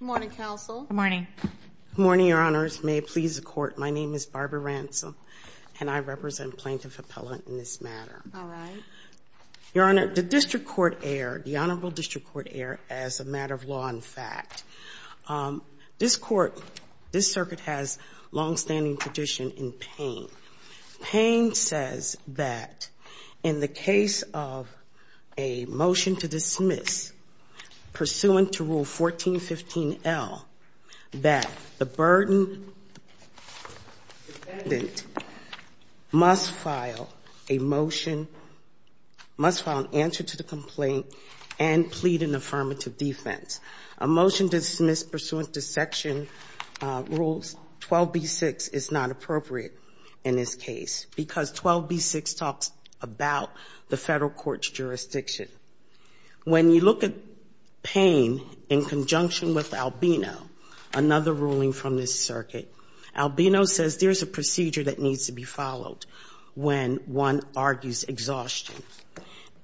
Good morning, Your Honors. May it please the Court, my name is Barbara Ransom, and I represent Plaintiff Appellant in this matter. Your Honor, the Honorable District Court Error, as a matter of law and fact, this circuit has longstanding tradition in Payne. Payne says that in the 14L, that the burden defendant must file a motion, must file an answer to the complaint, and plead an affirmative defense. A motion dismissed pursuant to Section Rules 12b-6 is not appropriate in this case, because 12b-6 talks about the federal court's jurisdiction. When you look at Payne in conjunction with Albino, another ruling from this circuit, Albino says there's a procedure that needs to be followed when one argues exhaustion.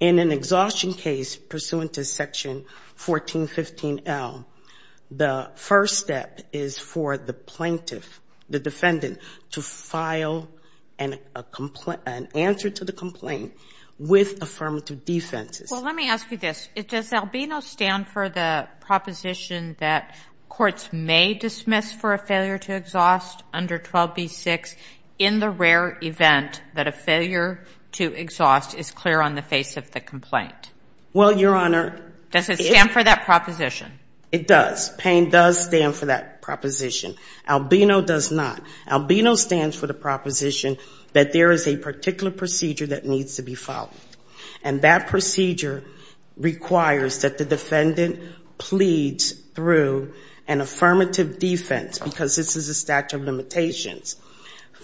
In an exhaustion case pursuant to Section 1415L, the first step is for the plaintiff, the defendant, to file an answer to the complaint with affirmative defenses. Well, let me ask you this. Does Albino stand for the proposition that courts may dismiss for a failure to exhaust under 12b-6 in the rare event that a failure to exhaust is clear on the face of the complaint? Does it stand for that proposition? It does. Payne does stand for that proposition. Albino does not. Albino stands for the proposition that there is a particular procedure that needs to be followed, and that procedure requires that the defendant pleads through an affirmative defense, because this is a statute of limitations.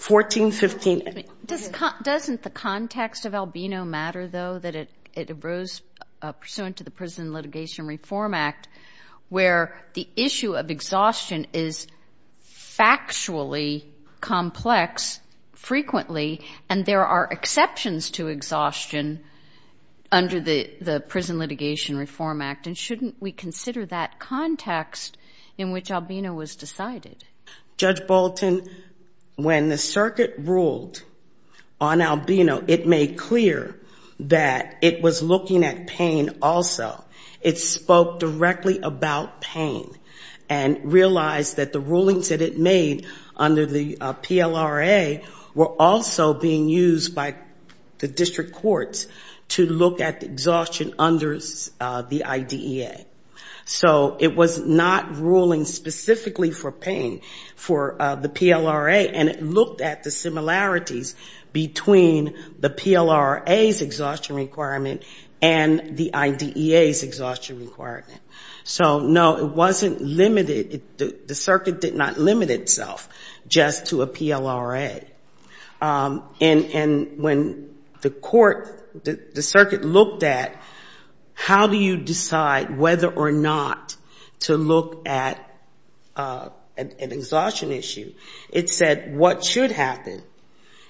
Doesn't the context of Albino matter, though, that it arose pursuant to the Prison Litigation Reform Act, where the issue of exhaustion is factually complex, frequently, and there are exceptions to exhaustion under the Prison Litigation Reform Act? And shouldn't we consider that context in which Albino was decided? Judge Bolton, when the circuit ruled on Albino, it made clear that it was looking at Payne also. It spoke directly about Payne and realized that the rulings that it made under the PLRA were also being used by the district courts to look at exhaustion under the IDEA. So it was not ruling specifically for Payne, for the PLRA, and it had similarities between the PLRA's exhaustion requirement and the IDEA's exhaustion requirement. So, no, it wasn't limited. The circuit did not limit itself just to a PLRA. And when the court, the circuit looked at how do you decide whether or not to look at an exhaustion issue, it said what should happen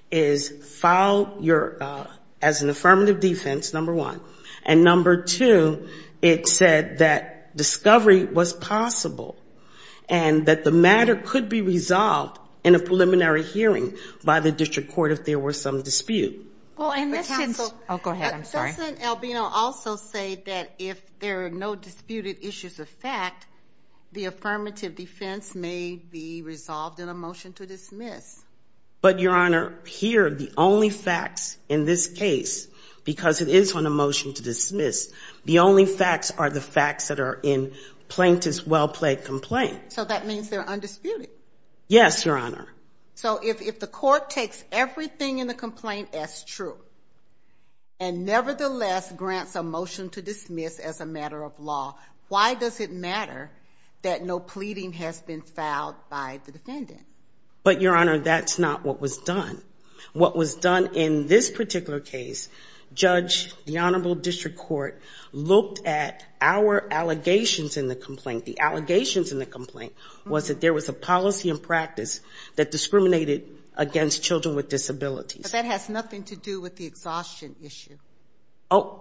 is file your, as an affirmative defense, number one. And number two, it said that discovery was possible and that the matter could be resolved in a preliminary hearing by the district court if there were some dispute. Well, and this is... Oh, go ahead. I'm sorry. Doesn't Albino also say that if there are no disputed issues of fact, the affirmative defense may be resolved in a motion to dismiss? But, Your Honor, here the only facts in this case, because it is on a motion to dismiss, the only facts are the facts that are in plaintiff's well-plaid complaint. So that means they're undisputed? Yes, Your Honor. So if the court takes everything in the complaint as true and nevertheless grants a motion to dismiss as a matter of law, why does it matter that no pleading has been filed by the defendant? But, Your Honor, that's not what was done. What was done in this particular case, Judge, the Honorable District Court, looked at our allegations in the complaint. The allegations in the complaint was that there was a policy and practice that discriminated against children with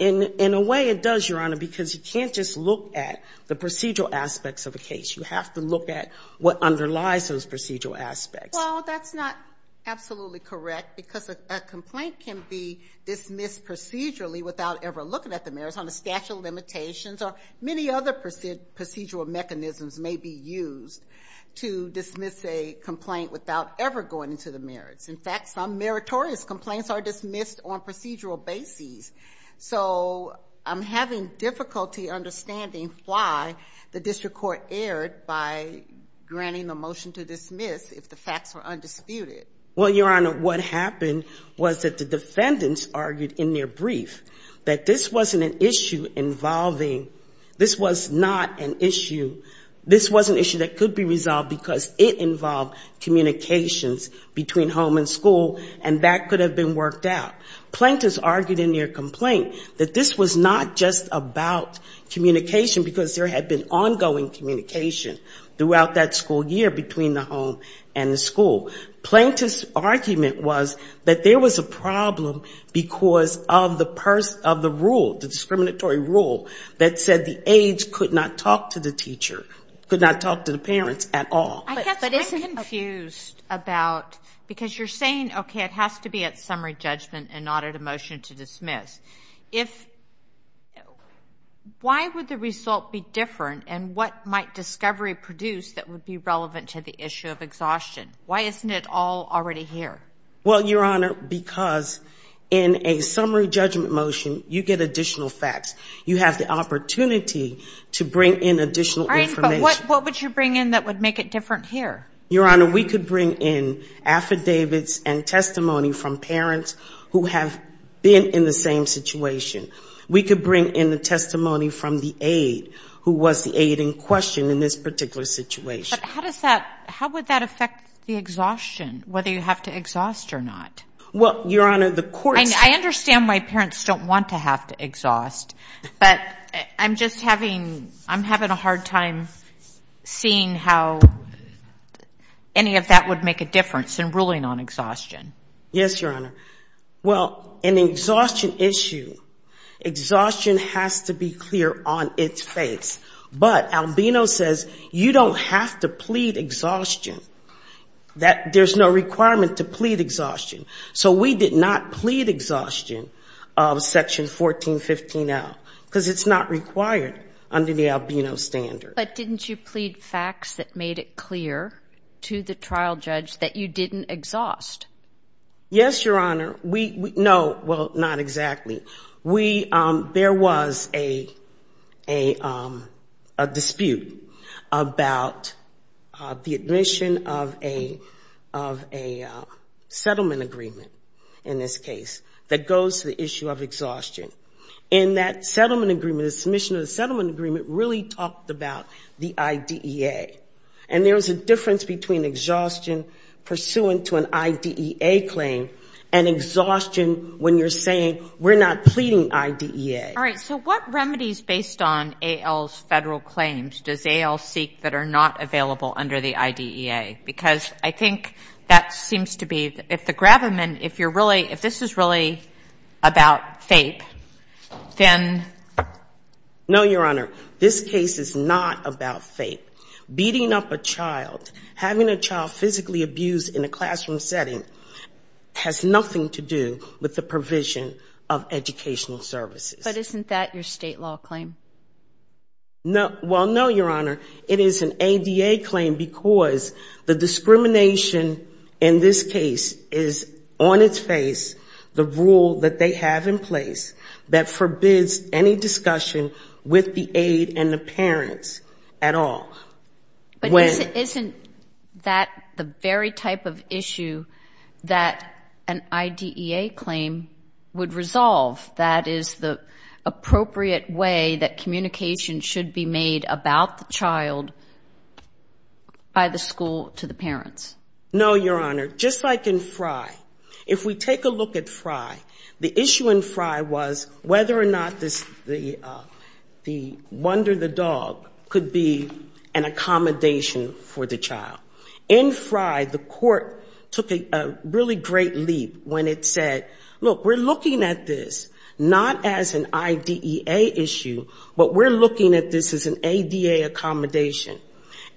In a way it does, Your Honor, because you can't just look at the procedural aspects of a case. You have to look at what underlies those procedural aspects. Well, that's not absolutely correct because a complaint can be dismissed procedurally without ever looking at the merits on the statute of limitations or many other procedural mechanisms may be used to dismiss a complaint without ever going into the I'm having difficulty understanding why the district court erred by granting the motion to dismiss if the facts were undisputed. Well, Your Honor, what happened was that the defendants argued in their brief that this wasn't an issue involving, this was not an issue, this was an issue that could be resolved because it involved communications between home and school and that been worked out. Plaintiffs argued in their complaint that this was not just about communication because there had been ongoing communication throughout that school year between the home and the school. Plaintiff's argument was that there was a problem because of the rule, the discriminatory rule that said the aides could not talk to the teacher, could not talk to the parents at all. I guess I'm confused about, because you're saying, okay, it has to be at summary judgment and not at a motion to dismiss. If, why would the result be different and what might discovery produce that would be relevant to the issue of exhaustion? Why isn't it all already here? Well, Your Honor, because in a summary judgment motion, you get additional facts. You have the different here. Your Honor, we could bring in affidavits and testimony from parents who have been in the same situation. We could bring in the testimony from the aide who was the aide in question in this particular situation. But how does that, how would that affect the exhaustion, whether you have to exhaust or not? Well, Your Honor, the courts... I understand why parents don't want to have to exhaust, but I'm just having, I'm having a hard time seeing how any of that would make a difference in ruling on exhaustion. Yes, Your Honor. Well, an exhaustion issue, exhaustion has to be clear on its face. But Albino says you don't have to plead exhaustion. That there's no requirement to plead exhaustion. So we did not plead exhaustion of Section 1415L because it's not required under the Albino standard. But didn't you plead facts that made it clear to the trial judge that you didn't exhaust? Yes, Your Honor. We, no, well, not exactly. We, there was a dispute about the admission of a, of a settlement agreement in this case that goes to the issue of exhaustion. And that settlement agreement, the submission of the settlement agreement really talked about the IDEA. And there was a difference between exhaustion pursuant to an IDEA claim and exhaustion when you're saying we're not pleading IDEA. All right. So what remedies based on AL's claims does AL seek that are not available under the IDEA? Because I think that seems to be, if the gravamen, if you're really, if this is really about FAPE, then? No, Your Honor. This case is not about FAPE. Beating up a child, having a child physically abused in a classroom setting has nothing to do with the provision of educational services. But isn't that your state law claim? No, well, no, Your Honor. It is an ADA claim because the discrimination in this case is on its face, the rule that they have in place that forbids any discussion with the aide and the parents at all. But isn't that the very type of issue that an IDEA claim would resolve? That is the appropriate way that communication should be made about the child by the school to the parents? No, Your Honor. Just like in Frye. If we take a look at Frye, the issue in Frye was whether or not the wonder the dog could be an accommodation for the child. In Frye, the court took a really great leap when it said, look, we're looking at this not as an IDEA issue, but we're looking at this as an ADA accommodation.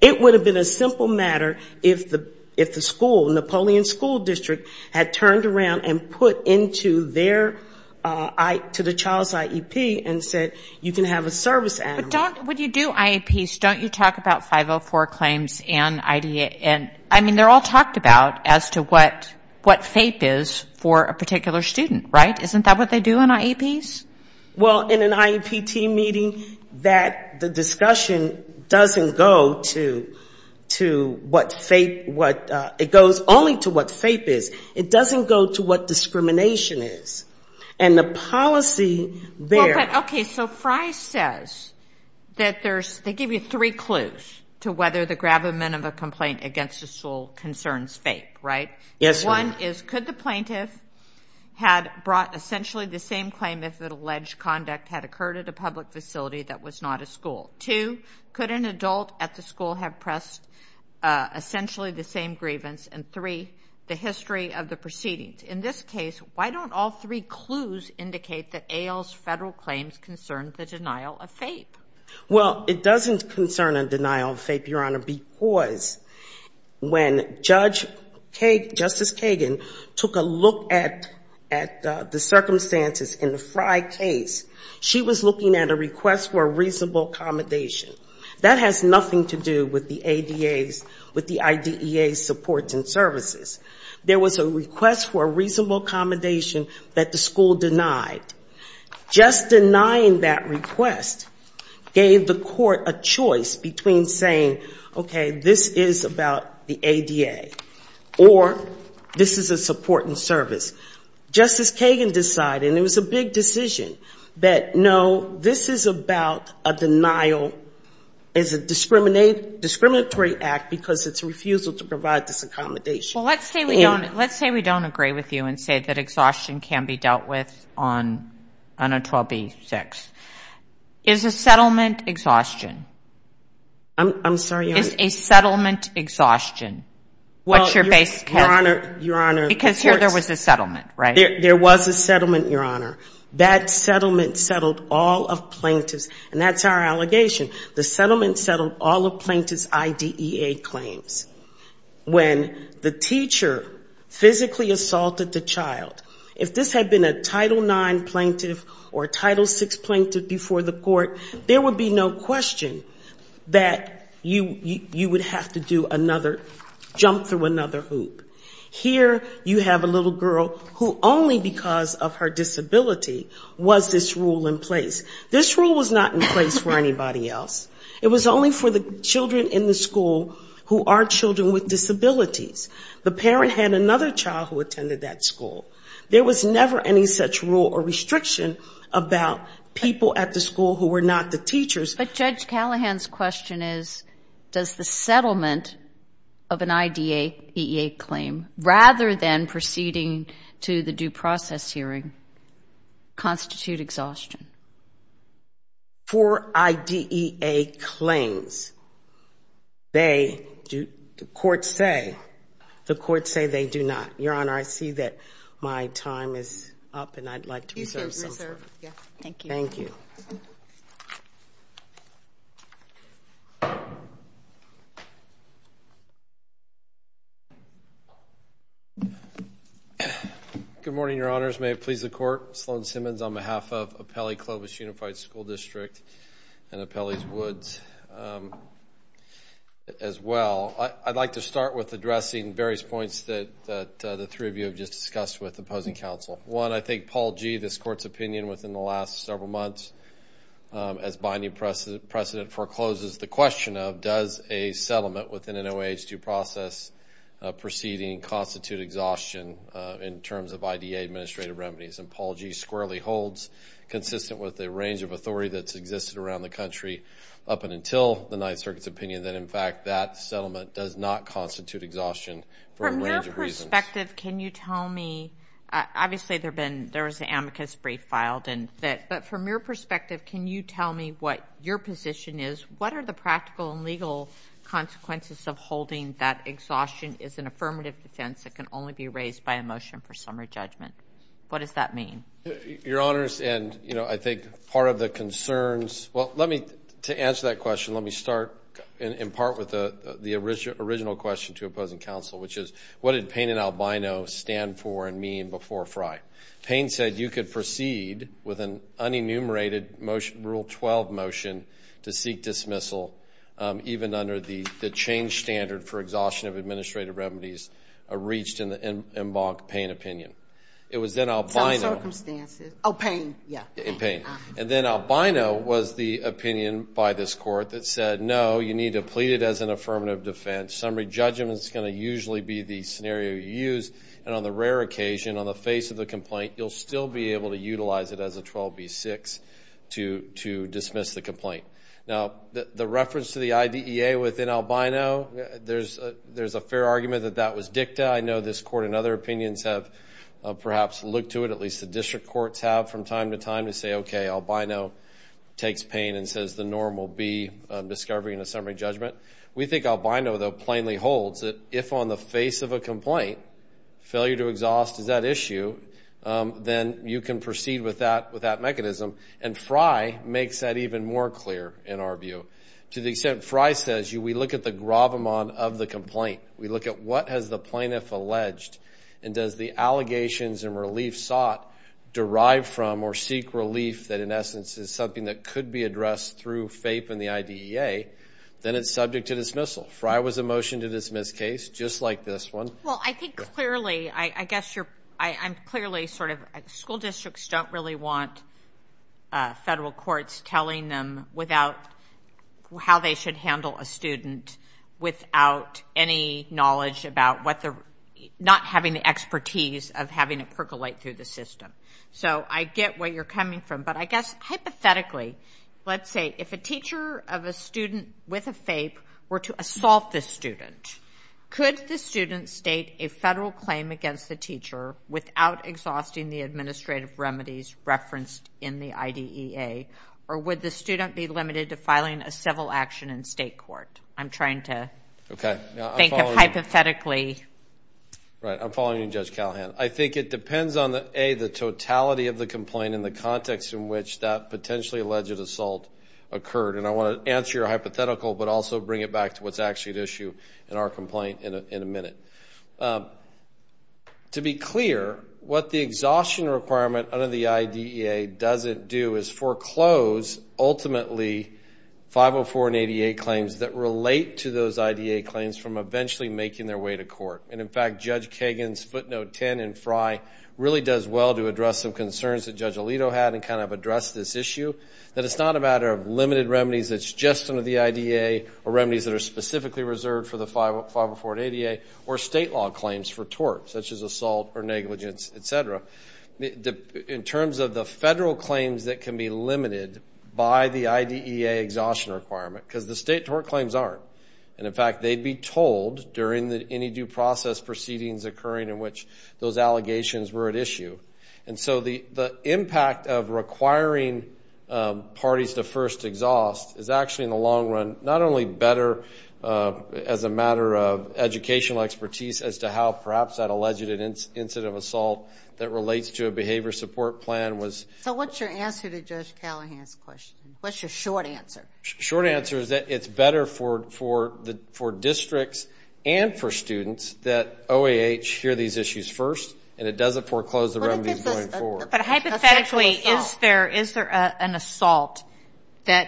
It would have been a simple matter if the school, Napoleon School District, had turned around and put into their to the child's IEP and said, you can have a service animal. But don't, when you do IEPs, don't you talk about 504 claims and IDEA? I mean, they're all talked about as to what FAPE is for a particular student, right? Isn't that what they do in IEPs? Well, in an IEP team meeting, the discussion doesn't go to what FAPE, it goes only to what FAPE is. It and the policy there. Okay, so Frye says that there's, they give you three clues to whether the gravamen of a complaint against a school concerns FAPE, right? Yes, ma'am. One is, could the plaintiff had brought essentially the same claim if an alleged conduct had occurred at a public facility that was not a school? Two, could an adult at the school have pressed essentially the same grievance? And three, the history of the proceedings. In this case, why don't all three clues indicate that AIL's federal claims concern the denial of FAPE? Well, it doesn't concern a denial of FAPE, Your Honor, because when Judge Kagan, Justice Kagan, took a look at the circumstances in the Frye case, she was looking at a request for a reasonable accommodation. That has nothing to do with the ADA's, with the IDEA's supports and services. There was a request for a reasonable accommodation that the school denied. Just denying that request gave the court a choice between saying, okay, this is about the ADA, or this is a support and service. Justice Kagan decided, and it was a big decision, that no, this is about a denial, is a discriminatory act because it's a refusal to provide this accommodation. Well, let's say we don't, let's say we don't agree with you and say that exhaustion can be dealt with on, on a 12B6. Is a settlement exhaustion? I'm sorry, Your Honor. Is a settlement exhaustion? Well, Your Honor, Your Honor. Because here there was a settlement, right? There was a settlement, Your Honor. That settlement settled all of plaintiffs, and that's our allegation. The settlement settled all of plaintiff's IDEA claims. When the teacher physically assaulted the child, if this had been a Title IX plaintiff or a Title VI plaintiff before the court, there would be no question that you, you would have to do another, jump through another hoop. Here you have a little girl who only because of her disability was this rule in place. This rule was not in place for anybody else. It was only for the children in the school who are children with disabilities. The parent had another child who attended that school. There was never any such rule or restriction about people at the school who were not the teachers. But Judge Callahan's question is, does the settlement of an IDEA claim, rather than proceeding to the due process hearing, constitute exhaustion? For IDEA claims, the courts say, the courts say they do not. Your Honor, I see that my time is up, and I'd like to reserve some time. Thank you. Good morning, Your Honors. May it please the Court, Sloan Simmons on behalf of Appellee Clovis Unified School District and Appellee Woods as well. I'd like to start with addressing various points that the three of you have just discussed with opposing counsel. One, I think Paul G., this Court's opinion within the last several months, as binding precedent forecloses, the question of, does a settlement within an OAH due process proceeding constitute exhaustion in terms of IDEA administrative remedies? And Paul G. squarely holds, consistent with the range of authority that's existed around the country up and until the Ninth Circuit's opinion, that in exhaustion for a range of reasons. From your perspective, can you tell me, obviously there was an amicus brief filed, but from your perspective, can you tell me what your position is? What are the practical and legal consequences of holding that exhaustion is an affirmative defense that can only be raised by a motion for summary judgment? What does that mean? Your Honors, and I think part of the concerns, well, let me, to answer that question, let me start in part with the original question to opposing counsel, which is, what did Payne and Albino stand for and mean before Frye? Payne said you could proceed with an unenumerated rule 12 motion to seek dismissal, even under the change standard for exhaustion of administrative remedies reached in the en banc Payne opinion. It was then Albino. Some circumstances. Oh, Payne, yeah. And then Albino was the opinion by this court that said, no, you need to plead it as an affirmative defense. Summary judgment is going to usually be the scenario you use, and on the rare occasion, on the face of the complaint, you'll still be able to utilize it as a 12B6 to dismiss the complaint. Now, the reference to the IDEA within Albino, there's a fair argument that that was dicta. I know this court and other opinions have perhaps looked to it, at least the district courts have from time to time, to say, okay, Albino takes Payne and says the norm will be discovery and a summary judgment. We think Albino, though, plainly holds that if on the face of a complaint, failure to exhaust is at issue, then you can proceed with that mechanism, and Frye makes that even more clear, in our view. To the extent Frye says, we look at the gravamon of the complaint. We look at what has the plaintiff alleged, and does the allegations and relief sought derive from or seek relief that, in essence, is something that could be addressed through FAPE and the IDEA, then it's subject to dismissal. Frye was a motion to dismiss case, just like this one. Well, I think clearly, I guess you're, I'm clearly sort of, school districts don't really want federal courts telling them without, how they should handle a student without any knowledge about what the, not having the expertise of having it percolate through the system. So I get where you're coming from, but I guess, hypothetically, let's say if a teacher of a student with a FAPE were to assault the student, could the student state a federal claim against the teacher without exhausting the administrative remedies referenced in the IDEA, or would the student be limited to filing a civil action in state court? I'm trying to think of hypotheticals. Right. I'm following you, Judge Callahan. I think it depends on the, A, the totality of the complaint and the context in which that potentially alleged assault occurred. And I want to answer your hypothetical, but also bring it back to what's actually at issue in our complaint in a minute. To be clear, what the exhaustion requirement under the IDEA doesn't do is foreclose ultimately 504 and ADA claims that relate to those IDEA claims from eventually making their way to court. And in fact, Judge Kagan's footnote 10 in Frye really does well to address some concerns that Judge Alito had and kind of address this issue, that it's not a matter of limited remedies that's just under the IDEA, or remedies that are specifically reserved for the 504 and ADA, or state law claims for tort, such as assault or negligence, et cetera. In terms of the federal claims that can be limited by the IDEA exhaustion requirement, because the state tort claims aren't. And in fact, they'd be told during any due process proceedings occurring in which those allegations were at issue. And so the impact of requiring parties to first exhaust is actually in the long run, not only better as a matter of educational expertise as to how perhaps that alleged incident of assault that relates to a behavior support plan was. So what's your answer to Judge Callahan's question? What's your short answer? Short answer is that it's better for districts and for students that OAH hear these issues first, and it doesn't foreclose the remedies going forward. But hypothetically, is there an assault that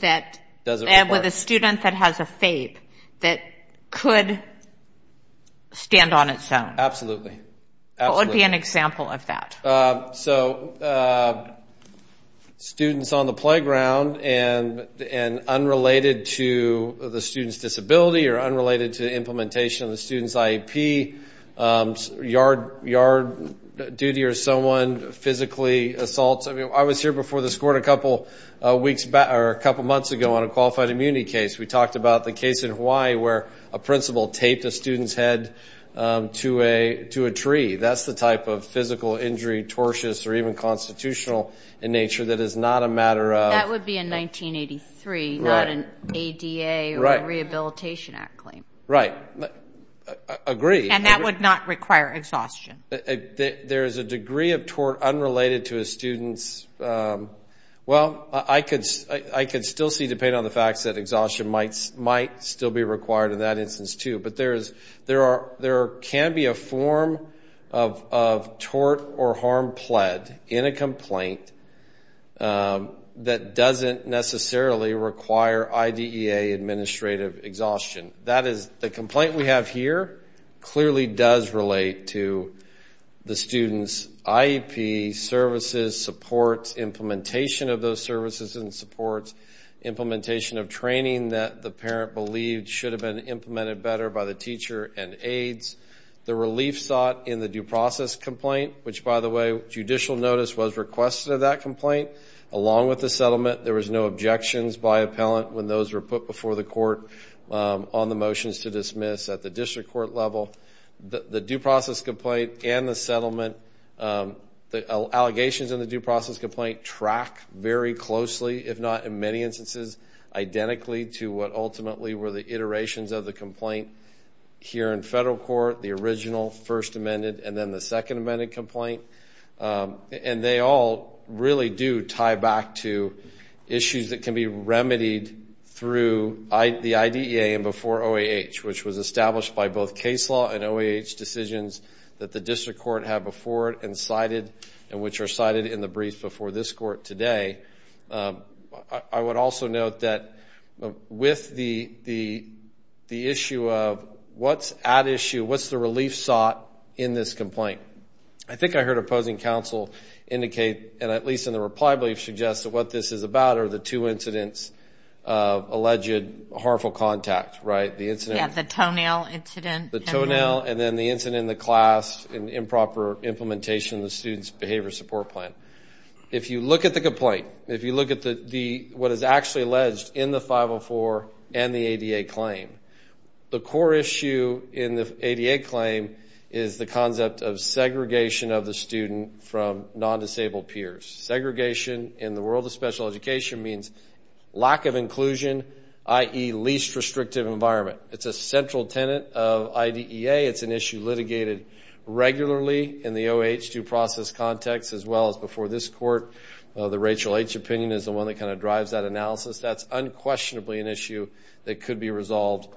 with a student that has a FAPE that could stand on its own? Absolutely. What would be an example of that? So students on the playground and unrelated to the student's disability or unrelated to implementation of the student's IEP, yard duty or someone physically assaults. I mean, I was here before this court a couple months ago on a qualified immunity case. We talked about the student's head to a tree. That's the type of physical injury, tortious or even constitutional in nature that is not a matter of... That would be in 1983, not an ADA or a Rehabilitation Act claim. Right. Agree. And that would not require exhaustion. There is a degree of tort unrelated to a student's... Well, I could still see, depending on the facts, that exhaustion might still be required in that instance, too. But there can be a form of tort or harm pled in a complaint that doesn't necessarily require IDEA administrative exhaustion. That is, the complaint we have here clearly does relate to the student's IEP services, supports, implementation of those services and supports, implementation of training that the parent believed should have been implemented better by the teacher and aides. The relief sought in the due process complaint, which, by the way, judicial notice was requested of that complaint, along with the settlement. There was no objections by appellant when those were put before the court on the motions to dismiss at the district court level. The due process complaint and the settlement, the allegations in the due process complaint track very closely, if not in many instances, identically to what ultimately were the iterations of the complaint here in federal court, the original First Amendment and then the Second Amendment complaint. And they all really do tie back to issues that can be remedied through the IDEA before OAH, which was established by both case law and OAH decisions that the district court had before it and cited and which are cited in the brief before this court today. I would also note that with the issue of what's at issue, what's the relief sought in this complaint? I think I heard opposing counsel indicate, and at least in the reply, suggest that what this is about are the two incidents of alleged harmful contact, right? Yeah, the toenail incident. The toenail and then the incident in the class and improper implementation of the student's behavior support plan. If you look at the complaint, if you look at what is actually alleged in the 504 and the ADA claim, the core issue in the ADA claim is the concept of segregation of the student from non-disabled peers. Segregation in the world of special education means lack of inclusion, i.e. least restrictive environment. It's a central tenet of IDEA. It's an issue litigated regularly in the OAH due process context as well as before this court. The Rachel H. opinion is the one that kind of drives that analysis. That's unquestionably an issue that could be resolved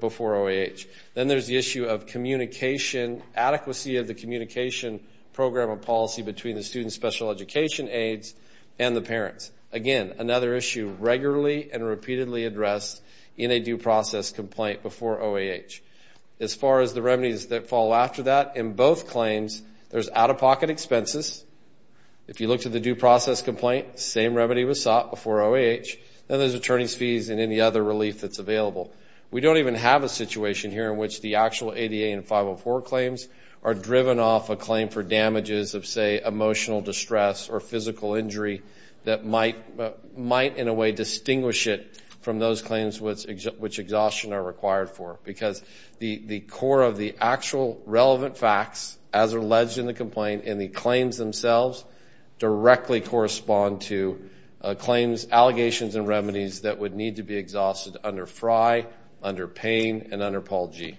before OAH. Then there's the issue of communication, adequacy of the communication program and policy between the student's special education aides and the parents. Again, another issue regularly and repeatedly addressed in a due process complaint before OAH. As far as the remedies that follow after that, in both claims there's out-of-pocket expenses. If you look to the due process complaint, same remedy was sought before OAH. Then there's attorney's fees and any other relief that's available. We don't even have a situation here in which the actual ADA and 504 claims are driven off a claim for damages of say emotional distress or physical injury that might in a way distinguish it from those claims which exhaustion are required for. Because the core of the actual relevant facts as alleged in the complaint and the claims themselves directly correspond to claims, allegations and remedies that would need to be exhausted under Frye, under Payne and under Paul G.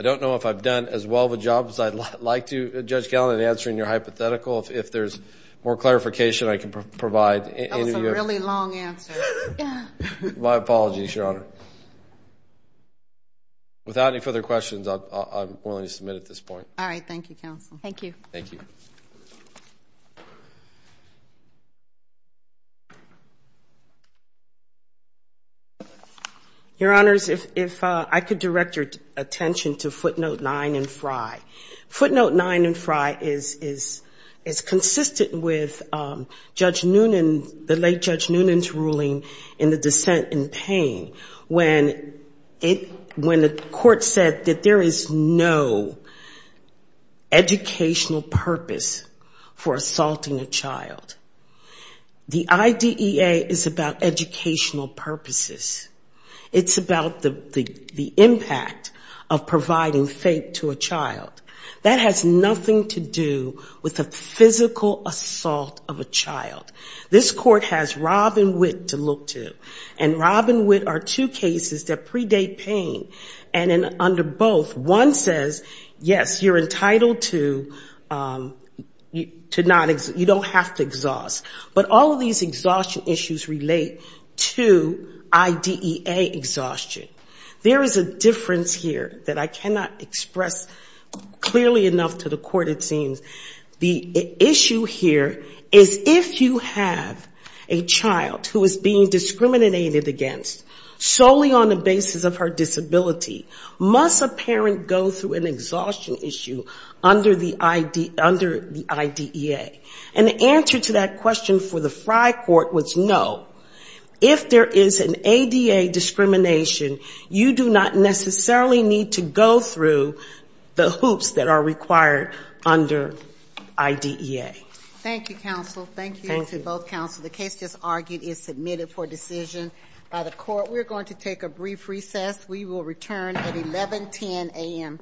I don't know if I've done as well of a job as I'd like to, Judge Gallin, in answering your hypothetical. If there's more clarification I can provide. That was a really long answer. My apologies, Your Honor. Without any further questions, I'm willing to submit at this point. All right, thank you, counsel. Thank you. Your Honors, if I could direct your attention to footnote nine in Frye. Footnote nine in Frye is consistent with Judge Noonan, the late Judge Noonan's ruling in the dissent in Payne when it, when the court said that there is no educational purpose for assaulting a child. The IDEA is about educational purposes. It's about the impact of providing faith to a child. That has nothing to do with the two cases that predate Payne and under both, one says, yes, you're entitled to not, you don't have to exhaust. But all of these exhaustion issues relate to IDEA exhaustion. There is a difference here that I cannot express clearly enough to the court, it seems. The issue here is if you have a child who is being assaulted solely on the basis of her disability, must a parent go through an exhaustion issue under the IDEA? And the answer to that question for the Frye court was no. If there is an ADA discrimination, you do not necessarily need to go through the hoops that are required under IDEA. Thank you, counsel. Thank you to both counsel. The case just argued is submitted for decision by the court. We're going to take a brief recess. We will return at 1110 a.m.